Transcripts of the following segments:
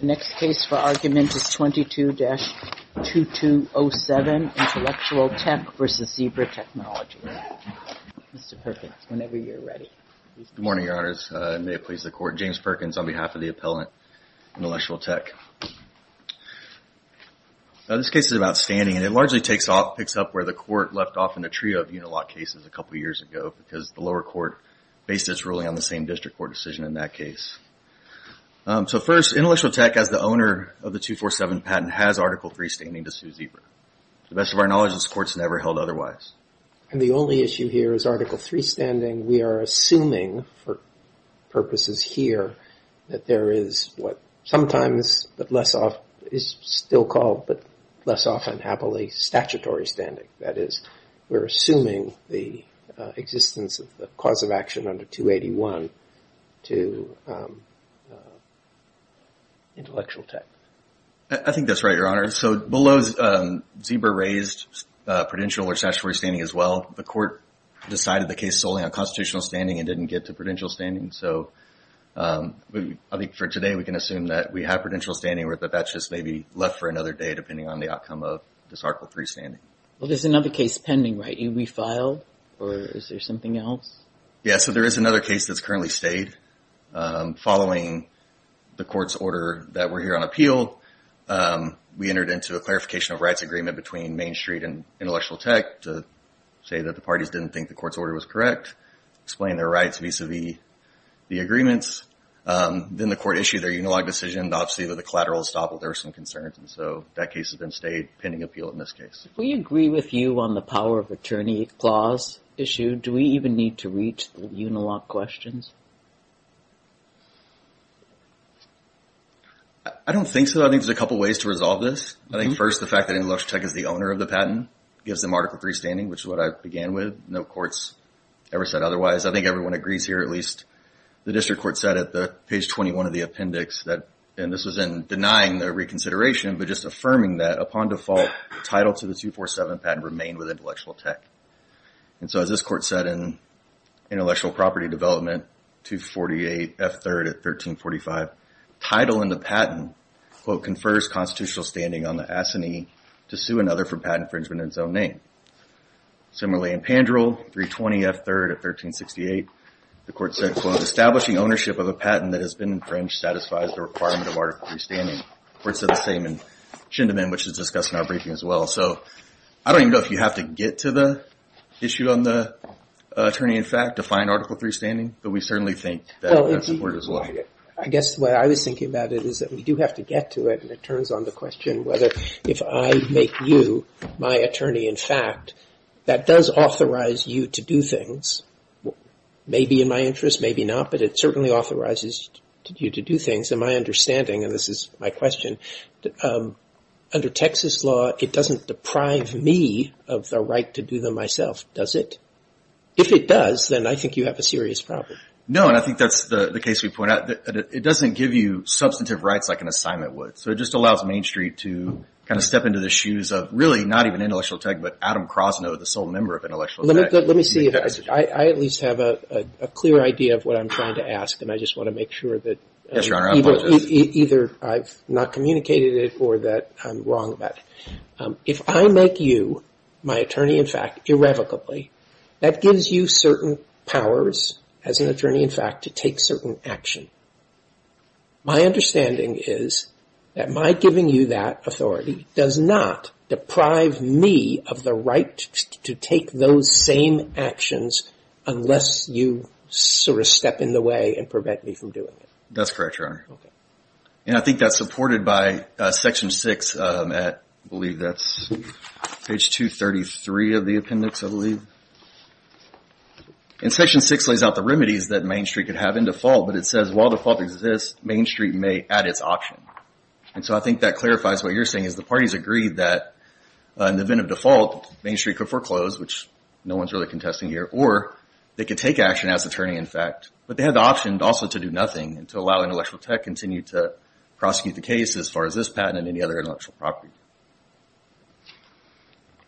The next case for argument is 22-2207, Intellectual Tech v. Zebra Technologies. Mr. Perkins, whenever you're ready. Good morning, Your Honors. May it please the Court, James Perkins on behalf of the appellant, Intellectual Tech. This case is an outstanding, and it largely picks up where the Court left off in a trio of unilaw cases a couple years ago, because the lower court based its ruling on the same district court decision in that case. So first, Intellectual Tech, as the owner of the 247 patent, has Article III standing to sue Zebra. To the best of our knowledge, this Court has never held otherwise. And the only issue here is Article III standing. We are assuming for purposes here that there is what sometimes is still called, but less often happily, statutory standing. That is, we're assuming the existence of the cause of action under 281 to Intellectual Tech. I think that's right, Your Honor. So below, Zebra raised prudential or statutory standing as well. The Court decided the case solely on constitutional standing and didn't get to prudential standing. So I think for today we can assume that we have prudential standing, or that that's just maybe left for another day depending on the outcome of this Article III standing. Well, there's another case pending, right? You refiled? Or is there something else? Yeah, so there is another case that's currently stayed. Following the Court's order that we're here on appeal, we entered into a clarification of rights agreement between Main Street and Intellectual Tech to say that the parties didn't think the Court's order was correct, explain their rights vis-à-vis the agreements. Then the Court issued their unilog decision. Obviously, with the collateral estoppel, there were some concerns. And so that case has been stayed pending appeal in this case. Do we agree with you on the power of attorney clause issue? Do we even need to reach the unilog questions? I don't think so. I think there's a couple ways to resolve this. I think, first, the fact that Intellectual Tech is the owner of the patent gives them Article III standing, which is what I began with. No court's ever said otherwise. I think everyone agrees here, at least. The District Court said at page 21 of the appendix, and this was in denying the reconsideration, but just affirming that, the title to the 247 patent remained with Intellectual Tech. And so as this Court said in Intellectual Property Development 248 F. 3rd at 1345, title in the patent, quote, confers constitutional standing on the assignee to sue another for patent infringement in his own name. Similarly, in Pandrel 320 F. 3rd at 1368, the Court said, quote, establishing ownership of a patent that has been infringed satisfies the requirement of Article III standing. The Court said the same in Schindelman, which is discussed in our briefing as well. So I don't even know if you have to get to the issue on the attorney in fact to find Article III standing, but we certainly think that would support it as well. I guess what I was thinking about it is that we do have to get to it, and it turns on the question whether if I make you my attorney in fact, that does authorize you to do things. Maybe in my interest, maybe not, but it certainly authorizes you to do things. In my understanding, and this is my question, under Texas law, it doesn't deprive me of the right to do them myself, does it? If it does, then I think you have a serious problem. No, and I think that's the case we point out. It doesn't give you substantive rights like an assignment would. So it just allows Main Street to kind of step into the shoes of really not even intellectual tech, but Adam Kroszner, the sole member of intellectual tech. Let me see if I at least have a clear idea of what I'm trying to ask, and I just want to make sure that either I've not communicated it or that I'm wrong about it. If I make you my attorney in fact irrevocably, that gives you certain powers as an attorney in fact to take certain action. My understanding is that my giving you that authority does not deprive me of the right to take those same actions unless you sort of step in the way and prevent me from doing it. That's correct, Your Honor. Okay. And I think that's supported by Section 6, I believe that's page 233 of the appendix, I believe. And Section 6 lays out the remedies that Main Street could have in default, but it says while default exists, Main Street may add its option. And so I think that clarifies what you're saying is the parties agreed that in the event of default, Main Street could foreclose, which no one's really contesting here, or they could take action as attorney in fact, but they have the option also to do nothing and to allow intellectual tech continue to prosecute the case as far as this patent and any other intellectual property.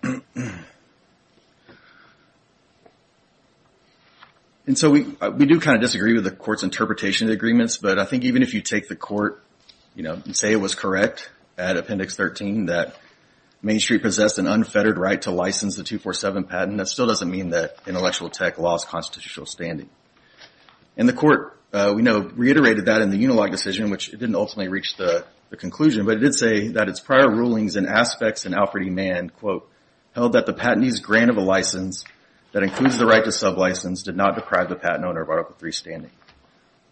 And so we do kind of disagree with the court's interpretation of the agreements, but I think even if you take the court and say it was correct at Appendix 13 that Main Street possessed an unfettered right to license the 247 patent, that still doesn't mean that intellectual tech lost constitutional standing. And the court, we know, reiterated that in the Unilog decision, which it didn't ultimately reach the conclusion, but it did say that its prior rulings and aspects in Alfred E. Mann, quote, held that the patentee's grant of a license that includes the right to sublicense did not deprive the patent owner of Article III standing.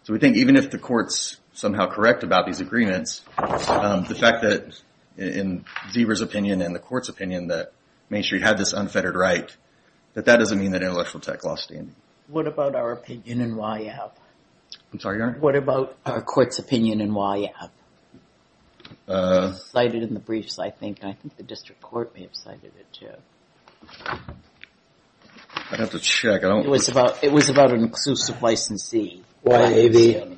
So we think even if the court's somehow correct about these agreements, the fact that in Zebra's opinion and the court's opinion that Main Street had this unfettered right, that that doesn't mean that intellectual tech lost standing. What about our opinion in YF? I'm sorry, Your Honor? What about our court's opinion in YF? It was cited in the briefs, I think, and I think the district court may have cited it too. I'd have to check. It was about an exclusive licensee. Oh, YF,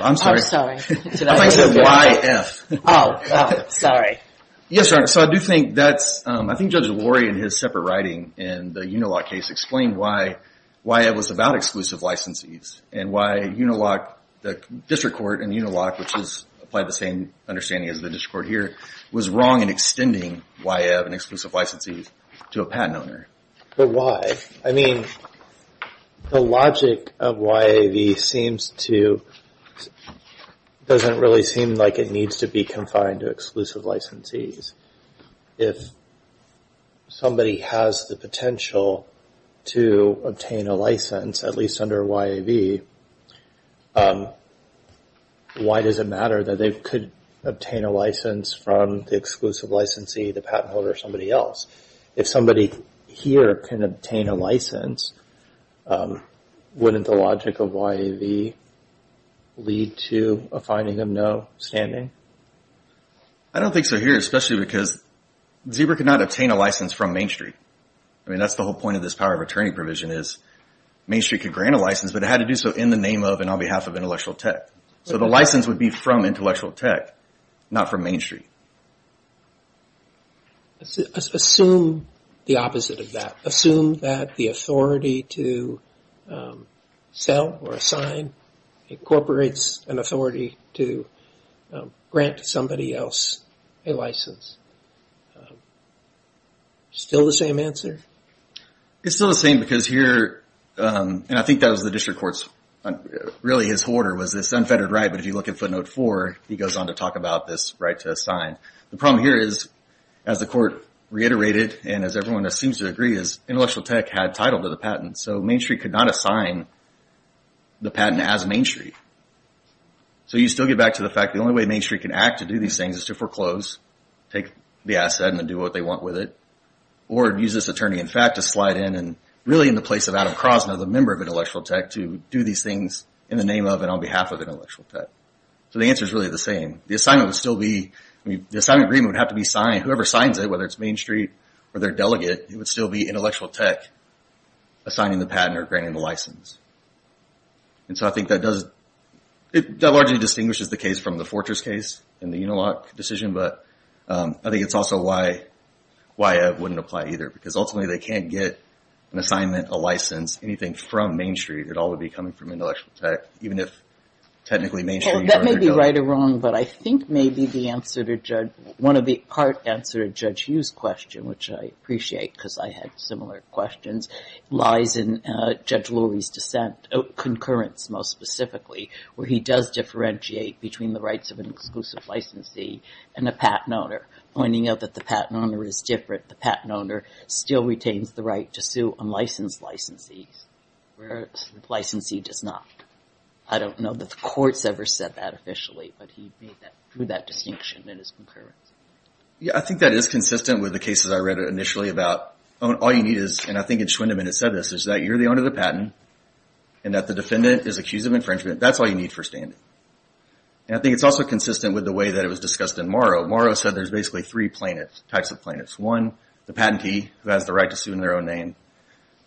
I'm sorry. I thought you said YF. Oh, sorry. Yes, Your Honor, so I do think that's, I think Judge Lurie in his separate writing in the Unilog case explained why YF was about exclusive licensees and why Unilog, the district court in Unilog, which has applied the same understanding as the district court here, was wrong in extending YF, an exclusive licensee, to a patent owner. But why? I mean, the logic of YAV doesn't really seem like it needs to be confined to exclusive licensees. If somebody has the potential to obtain a license, at least under YAV, why does it matter that they could obtain a license from the exclusive licensee, the patent holder, or somebody else? If somebody here can obtain a license, wouldn't the logic of YAV lead to a finding of no standing? I don't think so here, especially because Zebra could not obtain a license from Main Street. I mean, that's the whole point of this power of attorney provision is Main Street could grant a license, but it had to do so in the name of and on behalf of Intellectual Tech. So the license would be from Intellectual Tech, not from Main Street. Assume the opposite of that. Assume that the authority to sell or assign incorporates an authority to grant somebody else a license. Still the same answer? It's still the same because here, and I think that was the district court's, really his order was this unfettered right, but if you look at footnote four, he goes on to talk about this right to assign. The problem here is, as the court reiterated, and as everyone seems to agree, is Intellectual Tech had title to the patent, so Main Street could not assign the patent as Main Street. So you still get back to the fact the only way Main Street can act to do these things is to foreclose, take the asset and do what they want with it, or use this attorney in fact to slide in, and really in the place of Adam Kroszner, the member of Intellectual Tech, to do these things in the name of and on behalf of Intellectual Tech. So the answer is really the same. The assignment would still be, the assignment agreement would have to be signed. Whoever signs it, whether it's Main Street or their delegate, it would still be Intellectual Tech assigning the patent or granting the license. So I think that largely distinguishes the case from the Fortress case and the Unilock decision, but I think it's also why it wouldn't apply either, because ultimately they can't get an assignment, a license, anything from Main Street. It all would be coming from Intellectual Tech, even if technically Main Street or their delegate. That may be right or wrong, but I think maybe the answer to Judge, one of the part answer to Judge Hughes' question, which I appreciate because I had similar questions, lies in Judge Lurie's dissent, concurrence most specifically, where he does differentiate between the rights of an exclusive licensee and a patent owner, pointing out that the patent owner is different. The patent owner still retains the right to sue unlicensed licensees, whereas the licensee does not. I don't know that the court's ever said that officially, but he made that distinction in his concurrence. Yeah, I think that is consistent with the cases I read initially about all you need is, and I think it's Schwindeman that said this, is that you're the owner of the patent and that the defendant is accused of infringement. That's all you need for standing. And I think it's also consistent with the way that it was discussed in Morrow. Morrow said there's basically three types of plaintiffs. One, the patentee, who has the right to sue in their own name.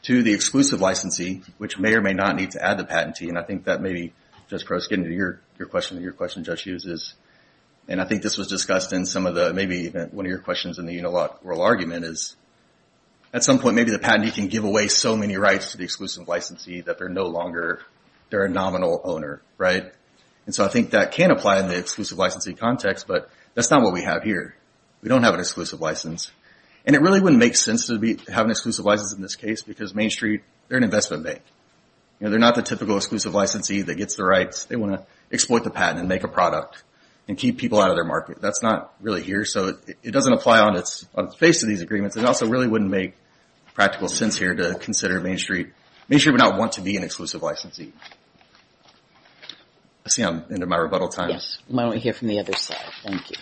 Two, the exclusive licensee, which may or may not need to add the patentee, and I think that maybe, Judge Prost, getting to your question, your question, Judge Hughes, is, and I think this was discussed in some of the, maybe even one of your questions in the Unilock oral argument, is at some point maybe the patentee can give away so many rights to the exclusive licensee that they're no longer, they're a nominal owner, right? And so I think that can apply in the exclusive licensee context, but that's not what we have here. We don't have an exclusive license. And it really wouldn't make sense to have an exclusive license in this case because Main Street, they're an investment bank. They're not the typical exclusive licensee that gets the rights. They want to exploit the patent and make a product and keep people out of their market. That's not really here, so it doesn't apply on the face of these agreements. It also really wouldn't make practical sense here to consider Main Street. Main Street would not want to be an exclusive licensee. I see I'm into my rebuttal time. Yes, why don't we hear from the other side? Thank you.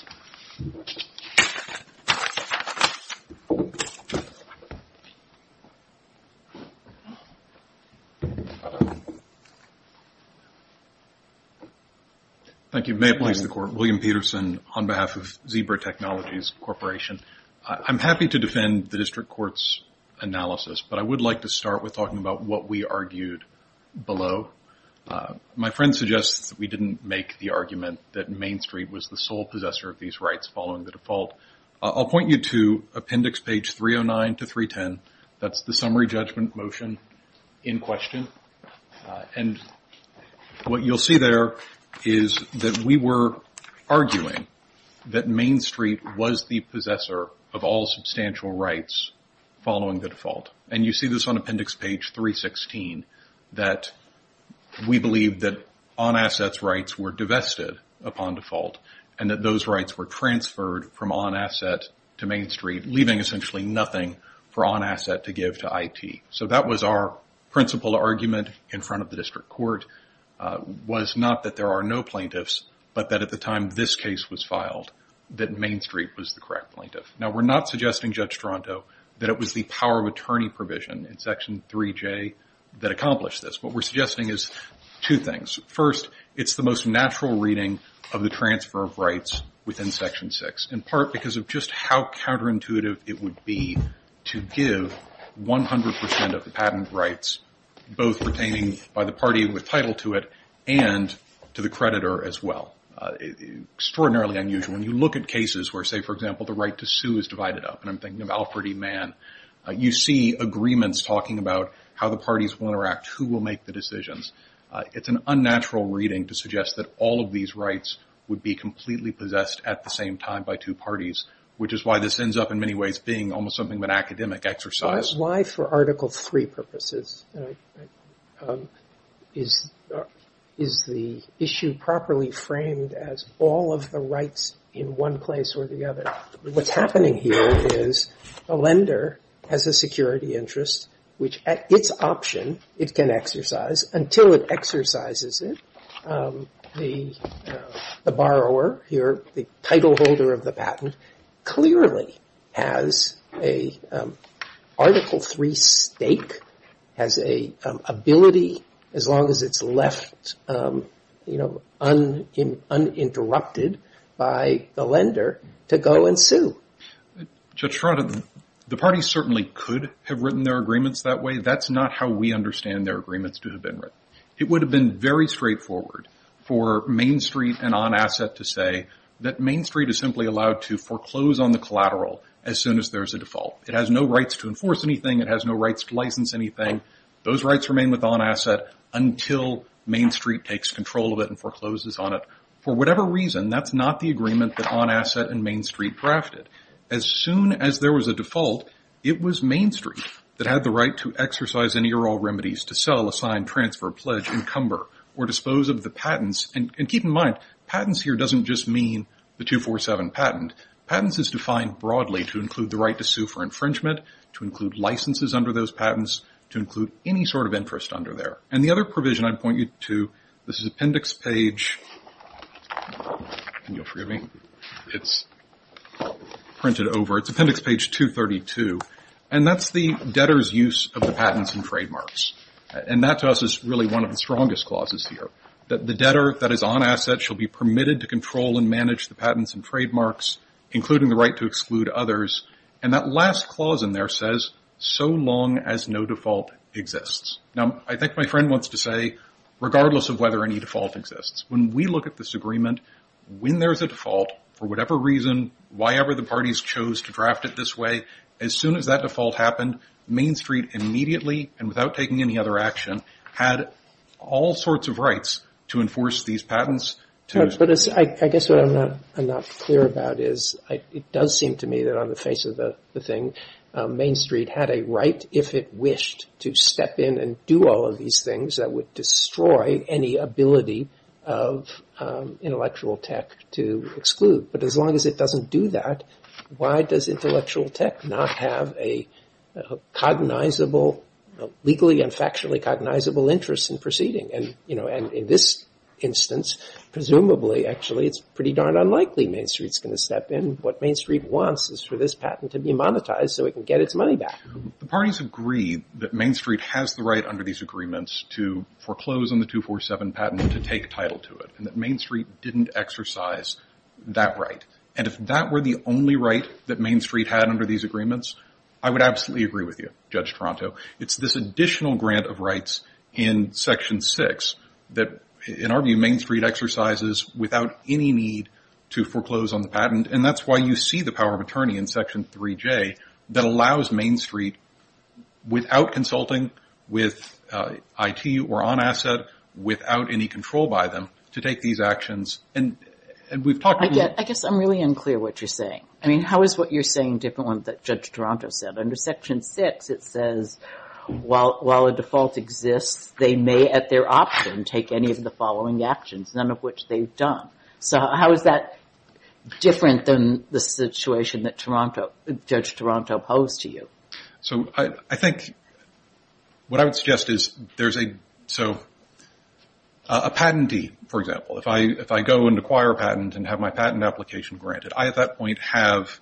Thank you. May it please the Court. William Peterson on behalf of Zebra Technologies Corporation. I'm happy to defend the district court's analysis, but I would like to start with talking about what we argued below. My friend suggests that we didn't make the argument that Main Street was the sole possessor of these rights following the default. I'll point you to appendix page 309 to 310. That's the summary judgment motion in question. And what you'll see there is that we were arguing that Main Street was the possessor of all substantial rights following the default. And you see this on appendix page 316, that we believe that on-assets rights were divested upon default and that those rights were transferred from on-asset to Main Street, leaving essentially nothing for on-asset to give to IT. So that was our principal argument in front of the district court, was not that there are no plaintiffs, but that at the time this case was filed, that Main Street was the correct plaintiff. Now, we're not suggesting, Judge Stronto, that it was the power of attorney provision in Section 3J that accomplished this. What we're suggesting is two things. First, it's the most natural reading of the transfer of rights within Section 6, in part because of just how counterintuitive it would be to give 100% of the patent rights, both pertaining by the party with title to it and to the creditor as well. Extraordinarily unusual. When you look at cases where, say, for example, the right to sue is divided up, and I'm thinking of Alfred E. Mann, you see agreements talking about how the parties will interact, who will make the decisions. It's an unnatural reading to suggest that all of these rights would be completely possessed at the same time by two parties, which is why this ends up, in many ways, being almost something of an academic exercise. Why, for Article 3 purposes, is the issue properly framed as all of the rights in one place or the other? What's happening here is a lender has a security interest, which at its option it can exercise until it exercises it. The borrower, the title holder of the patent, clearly has an Article 3 stake, has an ability, as long as it's left uninterrupted by the lender, to go and sue. The parties certainly could have written their agreements that way. That's not how we understand their agreements to have been written. It would have been very straightforward for Main Street and On Asset to say that Main Street is simply allowed to foreclose on the collateral as soon as there's a default. It has no rights to enforce anything. It has no rights to license anything. Those rights remain with On Asset until Main Street takes control of it and forecloses on it. For whatever reason, that's not the agreement that On Asset and Main Street drafted. As soon as there was a default, it was Main Street that had the right to exercise any or all remedies to sell, assign, transfer, pledge, encumber, or dispose of the patents. Keep in mind, patents here doesn't just mean the 247 patent. Patents is defined broadly to include the right to sue for infringement, to include licenses under those patents, to include any sort of interest under there. The other provision I'd point you to, this is appendix page 232, and that's the debtor's use of the patents and trademarks. That to us is really one of the strongest clauses here, that the debtor that is On Asset shall be permitted to control and manage the patents and trademarks, including the right to exclude others. That last clause in there says, so long as no default exists. I think my friend wants to say, regardless of whether any default exists, when we look at this agreement, when there's a default, for whatever reason, whyever the parties chose to draft it this way, as soon as that default happened, Main Street immediately, and without taking any other action, had all sorts of rights to enforce these patents. I guess what I'm not clear about is, it does seem to me that on the face of the thing, Main Street had a right, if it wished, to step in and do all of these things that would destroy any ability of intellectual tech to exclude. But as long as it doesn't do that, why does intellectual tech not have a cognizable, legally and factually cognizable interest in proceeding? And in this instance, presumably, actually, it's pretty darn unlikely Main Street's going to step in. What Main Street wants is for this patent to be monetized so it can get its money back. The parties agree that Main Street has the right, under these agreements, to foreclose on the 247 patent and to take title to it, and that Main Street didn't exercise that right. And if that were the only right that Main Street had under these agreements, I would absolutely agree with you, Judge Toronto. It's this additional grant of rights in Section 6 that, in our view, Main Street exercises without any need to foreclose on the patent, and that's why you see the power of attorney in Section 3J that allows Main Street, without consulting with IT or on asset, without any control by them, to take these actions. And we've talked about... I guess I'm really unclear what you're saying. I mean, how is what you're saying different than what Judge Toronto said? Under Section 6, it says, while a default exists, they may, at their option, take any of the following actions, none of which they've done. So how is that different than the situation that Judge Toronto posed to you? So I think what I would suggest is there's a... So a patentee, for example, if I go and acquire a patent and have my patent application granted, I, at that point, have...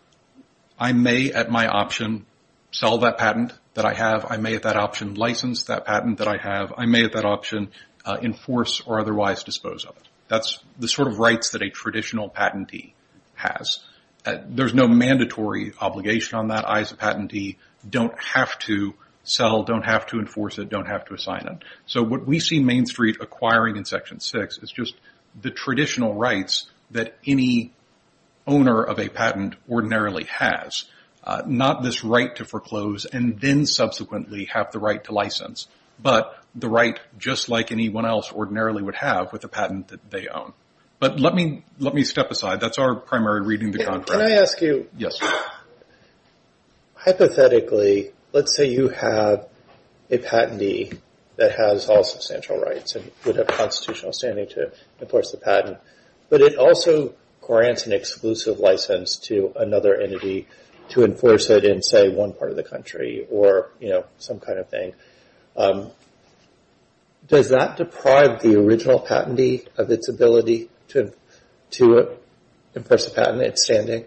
I may, at that option, sell that patent that I have. I may, at that option, license that patent that I have. I may, at that option, enforce or otherwise dispose of it. That's the sort of rights that a traditional patentee has. There's no mandatory obligation on that. I, as a patentee, don't have to sell, don't have to enforce it, don't have to assign it. So what we see Main Street acquiring in Section 6 is just the traditional rights that any owner of a patent ordinarily has. Not this right to foreclose and then subsequently have the right to license, but the right, just like anyone else ordinarily would have with a patent that they own. But let me step aside. That's our primary reading of the contract. Can I ask you... Yes. Hypothetically, let's say you have a patentee that has all substantial rights and would have constitutional standing to enforce the patent, but it also grants an exclusive license to another entity to enforce it in, say, one part of the country or some kind of thing. Does that deprive the original patentee of its ability to enforce a patent in its standing?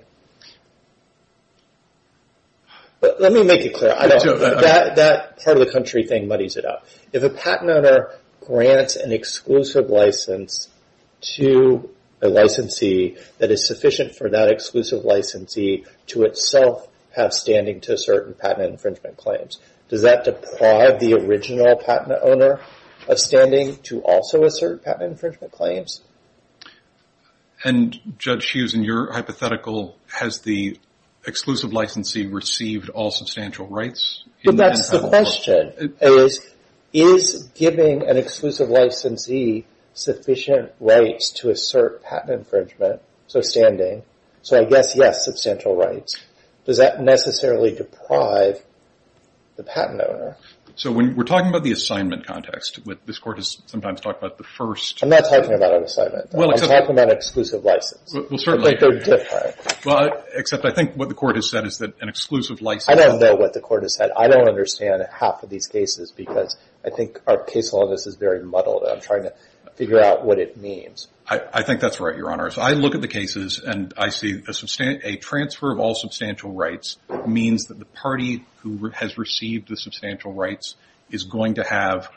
Let me make it clear. That part of the country thing muddies it up. If a patent owner grants an exclusive license to a licensee that is sufficient for that exclusive licensee to itself have standing to assert patent infringement claims, does that deprive the original patent owner of standing to also assert patent infringement claims? Judge Hughes, in your hypothetical, has the exclusive licensee received all substantial rights? That's the question. Is giving an exclusive licensee sufficient rights to assert patent infringement, so standing, so I guess, yes, substantial rights, does that necessarily deprive the patent owner? When we're talking about the assignment context, this court has sometimes talked about the first... I'm not talking about an assignment. I'm talking about exclusive license. Well, certainly. But they're different. Except I think what the court has said is that an exclusive license... I don't know what the court has said. I don't understand half of these cases because I think our case law is very muddled and I'm trying to figure out what it means. I think that's right, Your Honors. I look at the cases and I see a transfer of all substantial rights means that the party who has received the substantial rights is going to have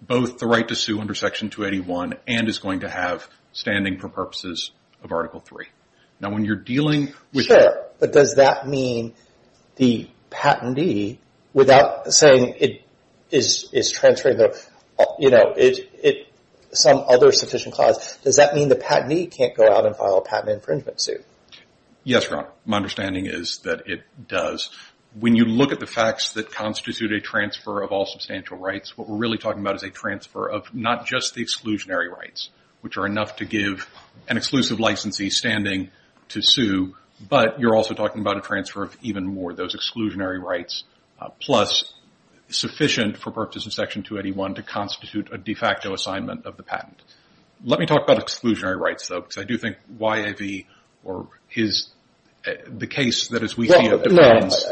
both the right to sue under Section 281 and is going to have standing for purposes of Article III. Now, when you're dealing with... Sure, but does that mean the patentee, without saying it is transferring some other sufficient clause, does that mean the patentee can't go out and file a patent infringement suit? Yes, Your Honor. My understanding is that it does. When you look at the facts that constitute a transfer of all substantial rights, what we're really talking about is a transfer of not just the exclusionary rights, which are enough to give an exclusive licensee standing to sue, but you're also talking about a transfer of even more, those exclusionary rights, plus sufficient for purposes of Section 281 to constitute a de facto assignment of the patent. Let me talk about exclusionary rights, though, because I do think Y.A.V. or the case that, as we see it, depends...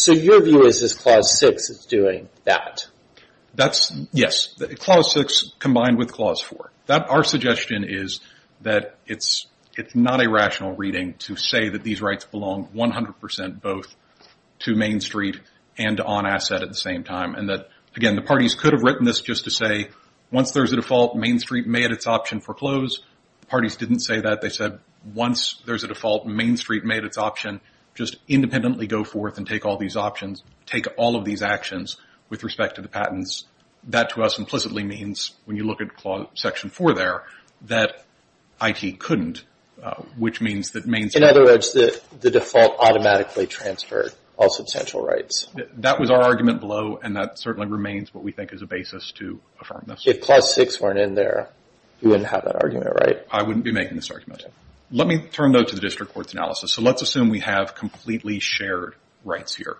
So your view is that Clause 6 is doing that? Yes, Clause 6 combined with Clause 4. Our suggestion is that it's not a rational reading to say that these rights belong 100% both to Main Street and to On Asset at the same time, and that, again, the parties could have written this just to say, once there's a default, Main Street may at its option foreclose. The parties didn't say that. They said, once there's a default, Main Street may at its option just independently go forth and take all these options, take all of these actions with respect to the patents. That to us implicitly means, when you look at Section 4 there, that I.T. couldn't, which means that Main Street... In other words, the default automatically transferred all substantial rights. That was our argument below, and that certainly remains what we think is a basis to affirm this. If Clause 6 weren't in there, you wouldn't have that argument, right? I wouldn't be making this argument. Let me turn, though, to the District Court's analysis. So let's assume we have completely shared rights here.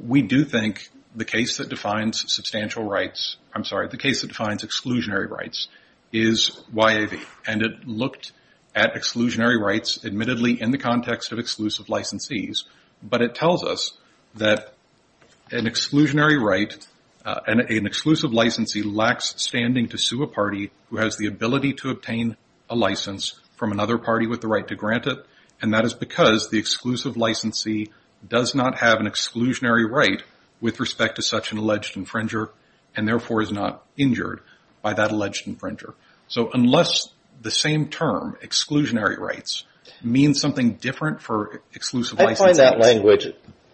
We do think the case that defines substantial rights... I'm sorry, the case that defines exclusionary rights is Y.A.V., and it looked at exclusionary rights, admittedly in the context of exclusive licensees, but it tells us that an exclusionary right, an exclusive licensee lacks standing to sue a party who has the ability to obtain a license from another party with the right to grant it, and that is because the exclusive licensee does not have an exclusionary right with respect to such an alleged infringer and therefore is not injured by that alleged infringer. So unless the same term, exclusionary rights, means something different for exclusive licensees... I find that language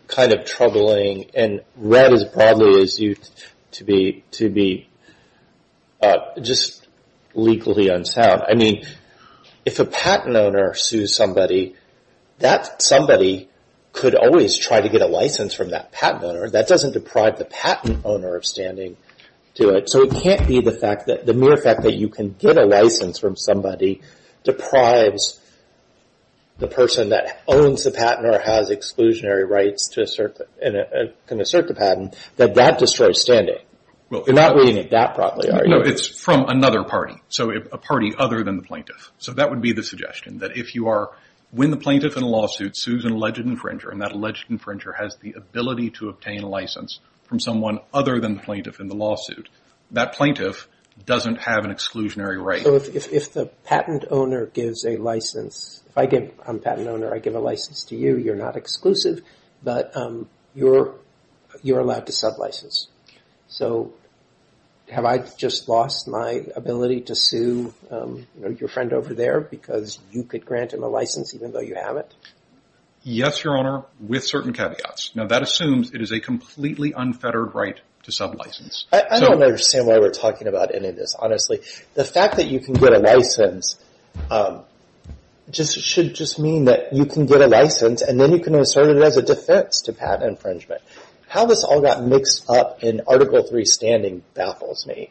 kind of troubling and read as broadly as you to be just legally unsound. I mean, if a patent owner sues somebody, that somebody could always try to get a license from that patent owner. That doesn't deprive the patent owner of standing to it. So it can't be the mere fact that you can get a license from somebody deprives the person that owns the patent or has exclusionary rights to assert the patent, that that destroys standing. You're not reading it that broadly, are you? No, it's from another party, so a party other than the plaintiff. So that would be the suggestion, that if you are... When the plaintiff in a lawsuit sues an alleged infringer and that alleged infringer has the ability to obtain a license from someone other than the plaintiff in the lawsuit, that plaintiff doesn't have an exclusionary right. So if the patent owner gives a license... If I'm a patent owner, I give a license to you. You're not exclusive, but you're allowed to sub-license. So have I just lost my ability to sue your friend over there because you could grant him a license even though you have it? Yes, Your Honor, with certain caveats. Now that assumes it is a completely unfettered right to sub-license. I don't understand why we're talking about any of this, honestly. The fact that you can get a license should just mean that you can get a license and then you can assert it as a defense to patent infringement. How this all got mixed up in Article 3 standing baffles me.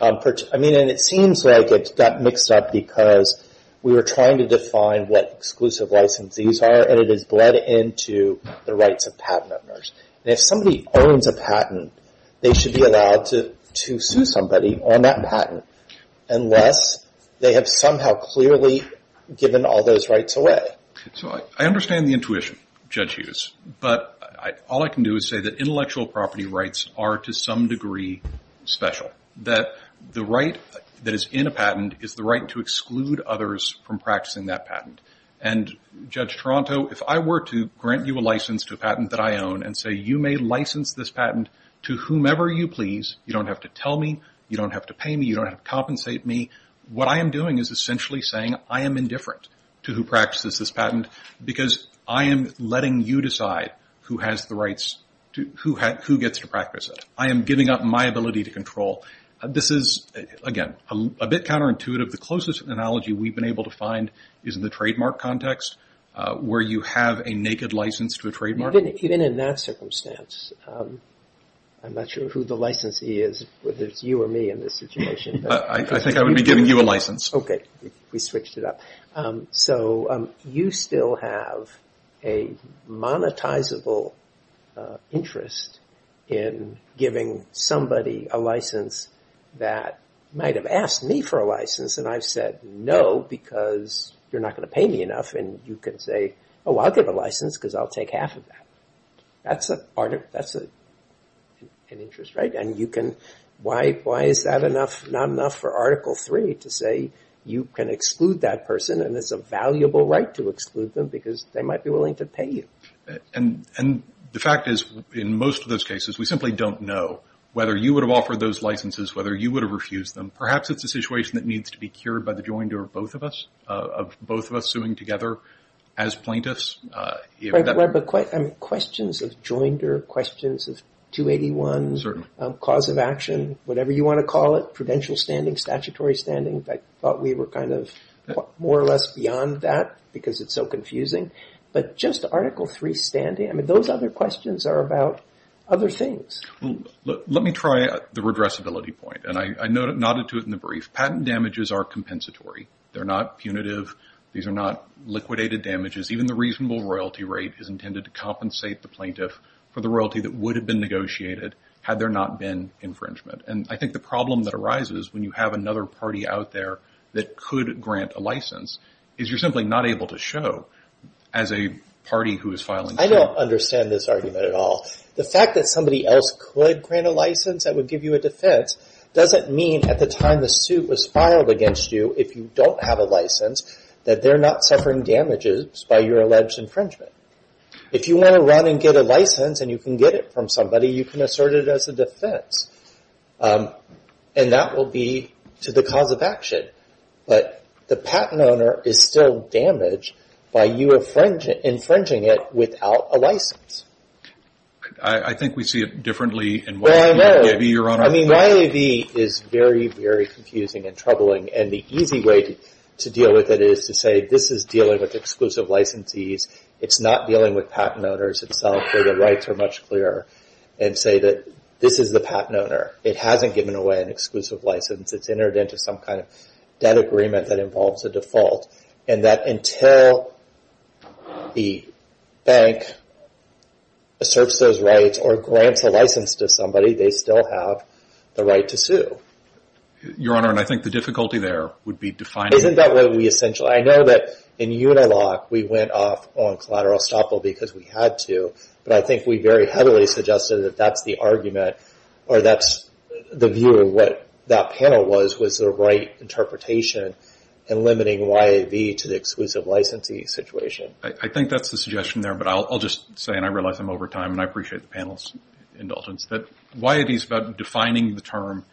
I mean, it seems like it got mixed up because we were trying to define what exclusive license these are and it is bled into the rights of patent owners. And if somebody owns a patent, they should be allowed to sue somebody on that patent unless they have somehow clearly given all those rights away. So I understand the intuition Judge Hughes, but all I can do is say that intellectual property rights are to some degree special. That the right that is in a patent is the right to exclude others from practicing that patent. And Judge Toronto, if I were to grant you a license to a patent that I own and say you may license this patent to whomever you please, you don't have to tell me, you don't have to pay me, you don't have to compensate me, what I am doing is essentially saying I am indifferent to who practices this patent because I am letting you decide who gets to practice it. I am giving up my ability to control. This is, again, a bit counterintuitive. The closest analogy we have been able to find is in the trademark context where you have a naked license to a trademark. Even in that circumstance, I am not sure who the licensee is, whether it is you or me in this situation. I think I would be giving you a license. Okay, we switched it up. So you still have a monetizable interest in giving somebody a license that might have asked me for a license and I have said no because you are not going to pay me enough and you can say, oh, I will give a license because I will take half of that. That is an interest, right? And why is that not enough for Article 3 to say you can exclude that person and it is a valuable right to exclude them because they might be willing to pay you. And the fact is in most of those cases, we simply don't know whether you would have offered those licenses, whether you would have refused them. Perhaps it is a situation that needs to be cured by the joinder of both of us, of both of us suing together as plaintiffs. Right, but questions of joinder, questions of 281, cause of action, whatever you want to call it, prudential standing, statutory standing, I thought we were kind of more or less beyond that because it is so confusing. But just Article 3 standing, those other questions are about other things. Let me try the redressability point. And I nodded to it in the brief. Patent damages are compensatory. They are not punitive. These are not liquidated damages. Even the reasonable royalty rate is intended to compensate the plaintiff for the royalty that would have been negotiated had there not been infringement. And I think the problem that arises when you have another party out there that could grant a license is you are simply not able to show as a party who is filing. I don't understand this argument at all. The fact that somebody else could grant a license that would give you a defense doesn't mean at the time the suit was filed against you if you don't have a license that they're not suffering damages by your alleged infringement. If you want to run and get a license and you can get it from somebody, you can assert it as a defense. And that will be to the cause of action. But the patent owner is still damaged by you infringing it without a license. I think we see it differently in YAB, Your Honor. Well, I know. I mean, YAB is very, very confusing and troubling. And the easy way to deal with it is to say this is dealing with exclusive licensees. It's not dealing with patent owners itself where the rights are much clearer and say that this is the patent owner. It hasn't given away an exclusive license. It's entered into some kind of debt agreement that involves a default. And that until the bank asserts those rights or grants a license to somebody, they still have the right to sue. Your Honor, and I think the difficulty there would be defining... Isn't that what we essentially... I know that in Unilock, we went off on collateral estoppel because we had to. But I think we very heavily suggested that that's the argument or that's the view of what that panel was, was the right interpretation in limiting YAB to the exclusive licensee situation. I think that's the suggestion there, but I'll just say, and I realize I'm over time and I appreciate the panel's indulgence, that YAB is about defining the term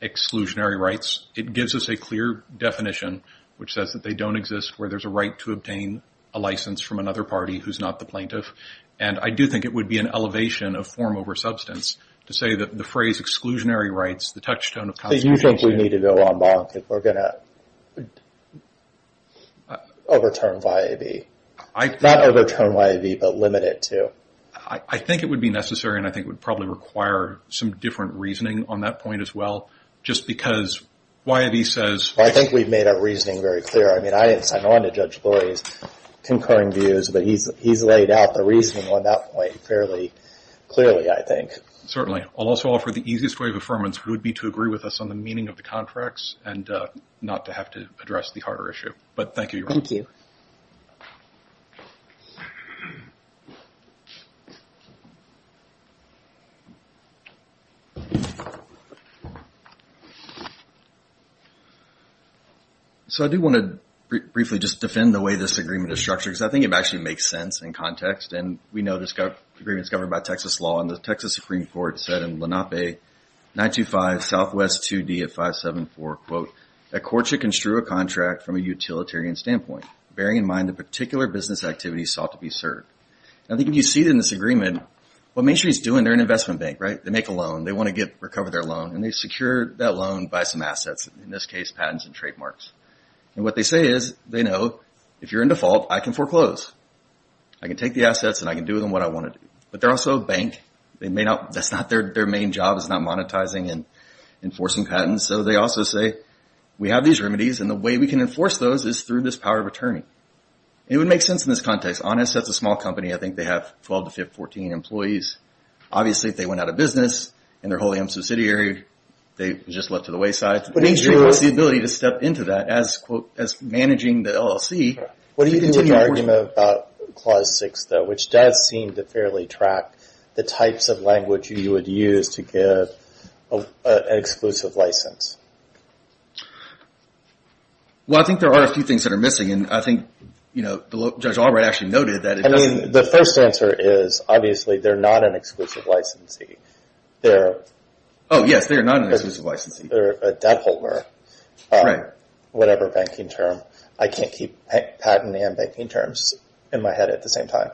exclusionary rights. It gives us a clear definition which says that they don't exist where there's a right to obtain a license from another party who's not the plaintiff. And I do think it would be an elevation of form over substance to say that the phrase exclusionary rights, the touchstone of constitution... So you think we need to go en banc if we're going to overturn YAB? Not overturn YAB, but limit it to? I think it would be necessary and I think it would probably require some different reasoning on that point as well, just because YAB says... I think we've made our reasoning very clear. I mean, I didn't sign on to Judge Lurie's concurring views, but he's laid out the reasoning on that point fairly clearly, I think. Certainly. I'll also offer the easiest way of affirmance would be to agree with us on the meaning of the contracts and not to have to address the harder issue. But thank you. Thank you. So I do want to briefly just defend the way this agreement is structured, because I think it actually makes sense in context and we know this agreement is governed by Texas law and the Texas Supreme Court said in Lenape 925 Southwest 2D at 574, quote, that courts should construe a contract from a utilitarian standpoint, bearing in mind the particular business activity sought to be served. I think if you see it in this agreement, what Main Street's doing, they're an investment bank, right? They make a loan. They want to recover their loan and they secure that loan by some assets, in this case, patents and trademarks. And what they say is, they know, if you're in default, I can foreclose. I can take the assets and I can do with them what I want to do. But they're also a bank. That's not their main job, is not monetizing and enforcing patents. And so they also say, we have these remedies and the way we can enforce those is through this power of attorney. It would make sense in this context. Honest, that's a small company. I think they have 12 to 14 employees. Obviously, if they went out of business and they're wholly unsubsidiary, they're just left to the wayside. But Main Street has the ability to step into that as managing the LLC. What do you think of the argument about Clause 6, though, which does seem to fairly track the types of language you would use to get an exclusive license? Well, I think there are a few things that are missing. And I think Judge Albright actually noted that. I mean, the first answer is, obviously, they're not an exclusive licensee. Oh, yes, they are not an exclusive licensee. They're a debt holder. Right. Whatever banking term. I can't keep patent and banking terms in my head at the same time.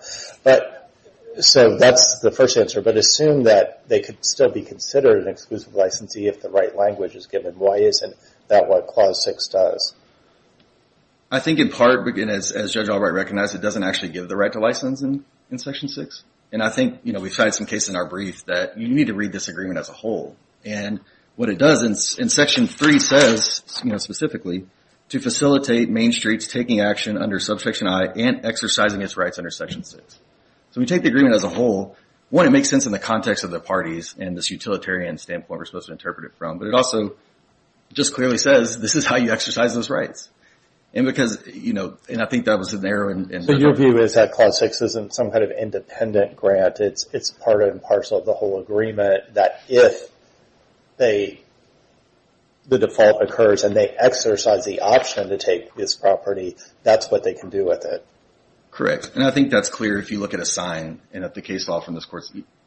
So that's the first answer. But assume that they could still be considered an exclusive licensee if the right language is given. Why isn't that what Clause 6 does? I think in part, as Judge Albright recognized, it doesn't actually give the right to license in Section 6. And I think we find some cases in our brief that you need to read this agreement as a whole. And what it does in Section 3 says, specifically, to facilitate Main Street's taking action under Subsection I and exercising its rights under Section 6. So we take the agreement as a whole. One, it makes sense in the context of the parties and this utilitarian standpoint we're supposed to interpret it from. But it also just clearly says, this is how you exercise those rights. And because, you know, and I think that was an error in... So your view is that Clause 6 isn't some kind of independent grant. It's part and parcel of the whole agreement that if the default occurs and they exercise the option to take this property, that's what they can do with it. Correct. And I think that's clear if you look at a sign and at the case law from this court.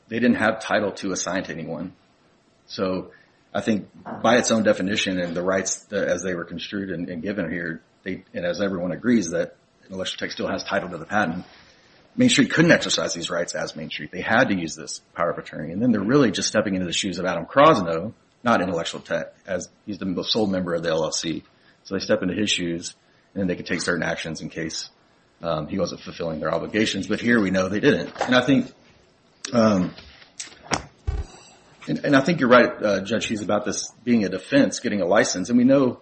They didn't have Title II assigned to anyone. So I think by its own definition and the rights as they were construed and given here, and as everyone agrees that Intellectual Tech still has title to the patent, Main Street couldn't exercise these rights as Main Street. They had to use this power of attorney. And then they're really just stepping into the shoes of Adam Krasno, not Intellectual Tech, as he's the sole member of the LLC. So they step into his shoes and then they can take certain actions in case he wasn't fulfilling their obligations. But here we know they didn't. And I think you're right, Judge, he's about this being a defense, getting a license. And we know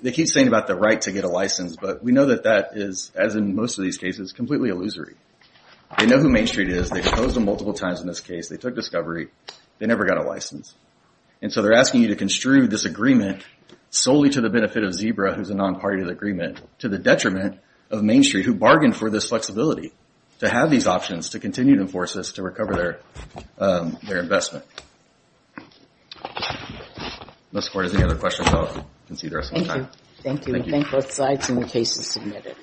they keep saying about the right to get a license, but we know that that is, as in most of these cases, completely illusory. They know who Main Street is. They've opposed them multiple times in this case. They took discovery. They never got a license. And so they're asking you to construe this agreement solely to the benefit of Zebra, who's a non-party to the agreement, to the detriment of Main Street, who bargained for this flexibility to have these options to continue to enforce this to recover their investment. Unless the court has any other questions, I'll concede the rest of my time. Thank you. Thank you. Thank you. Thank both sides and the cases submitted.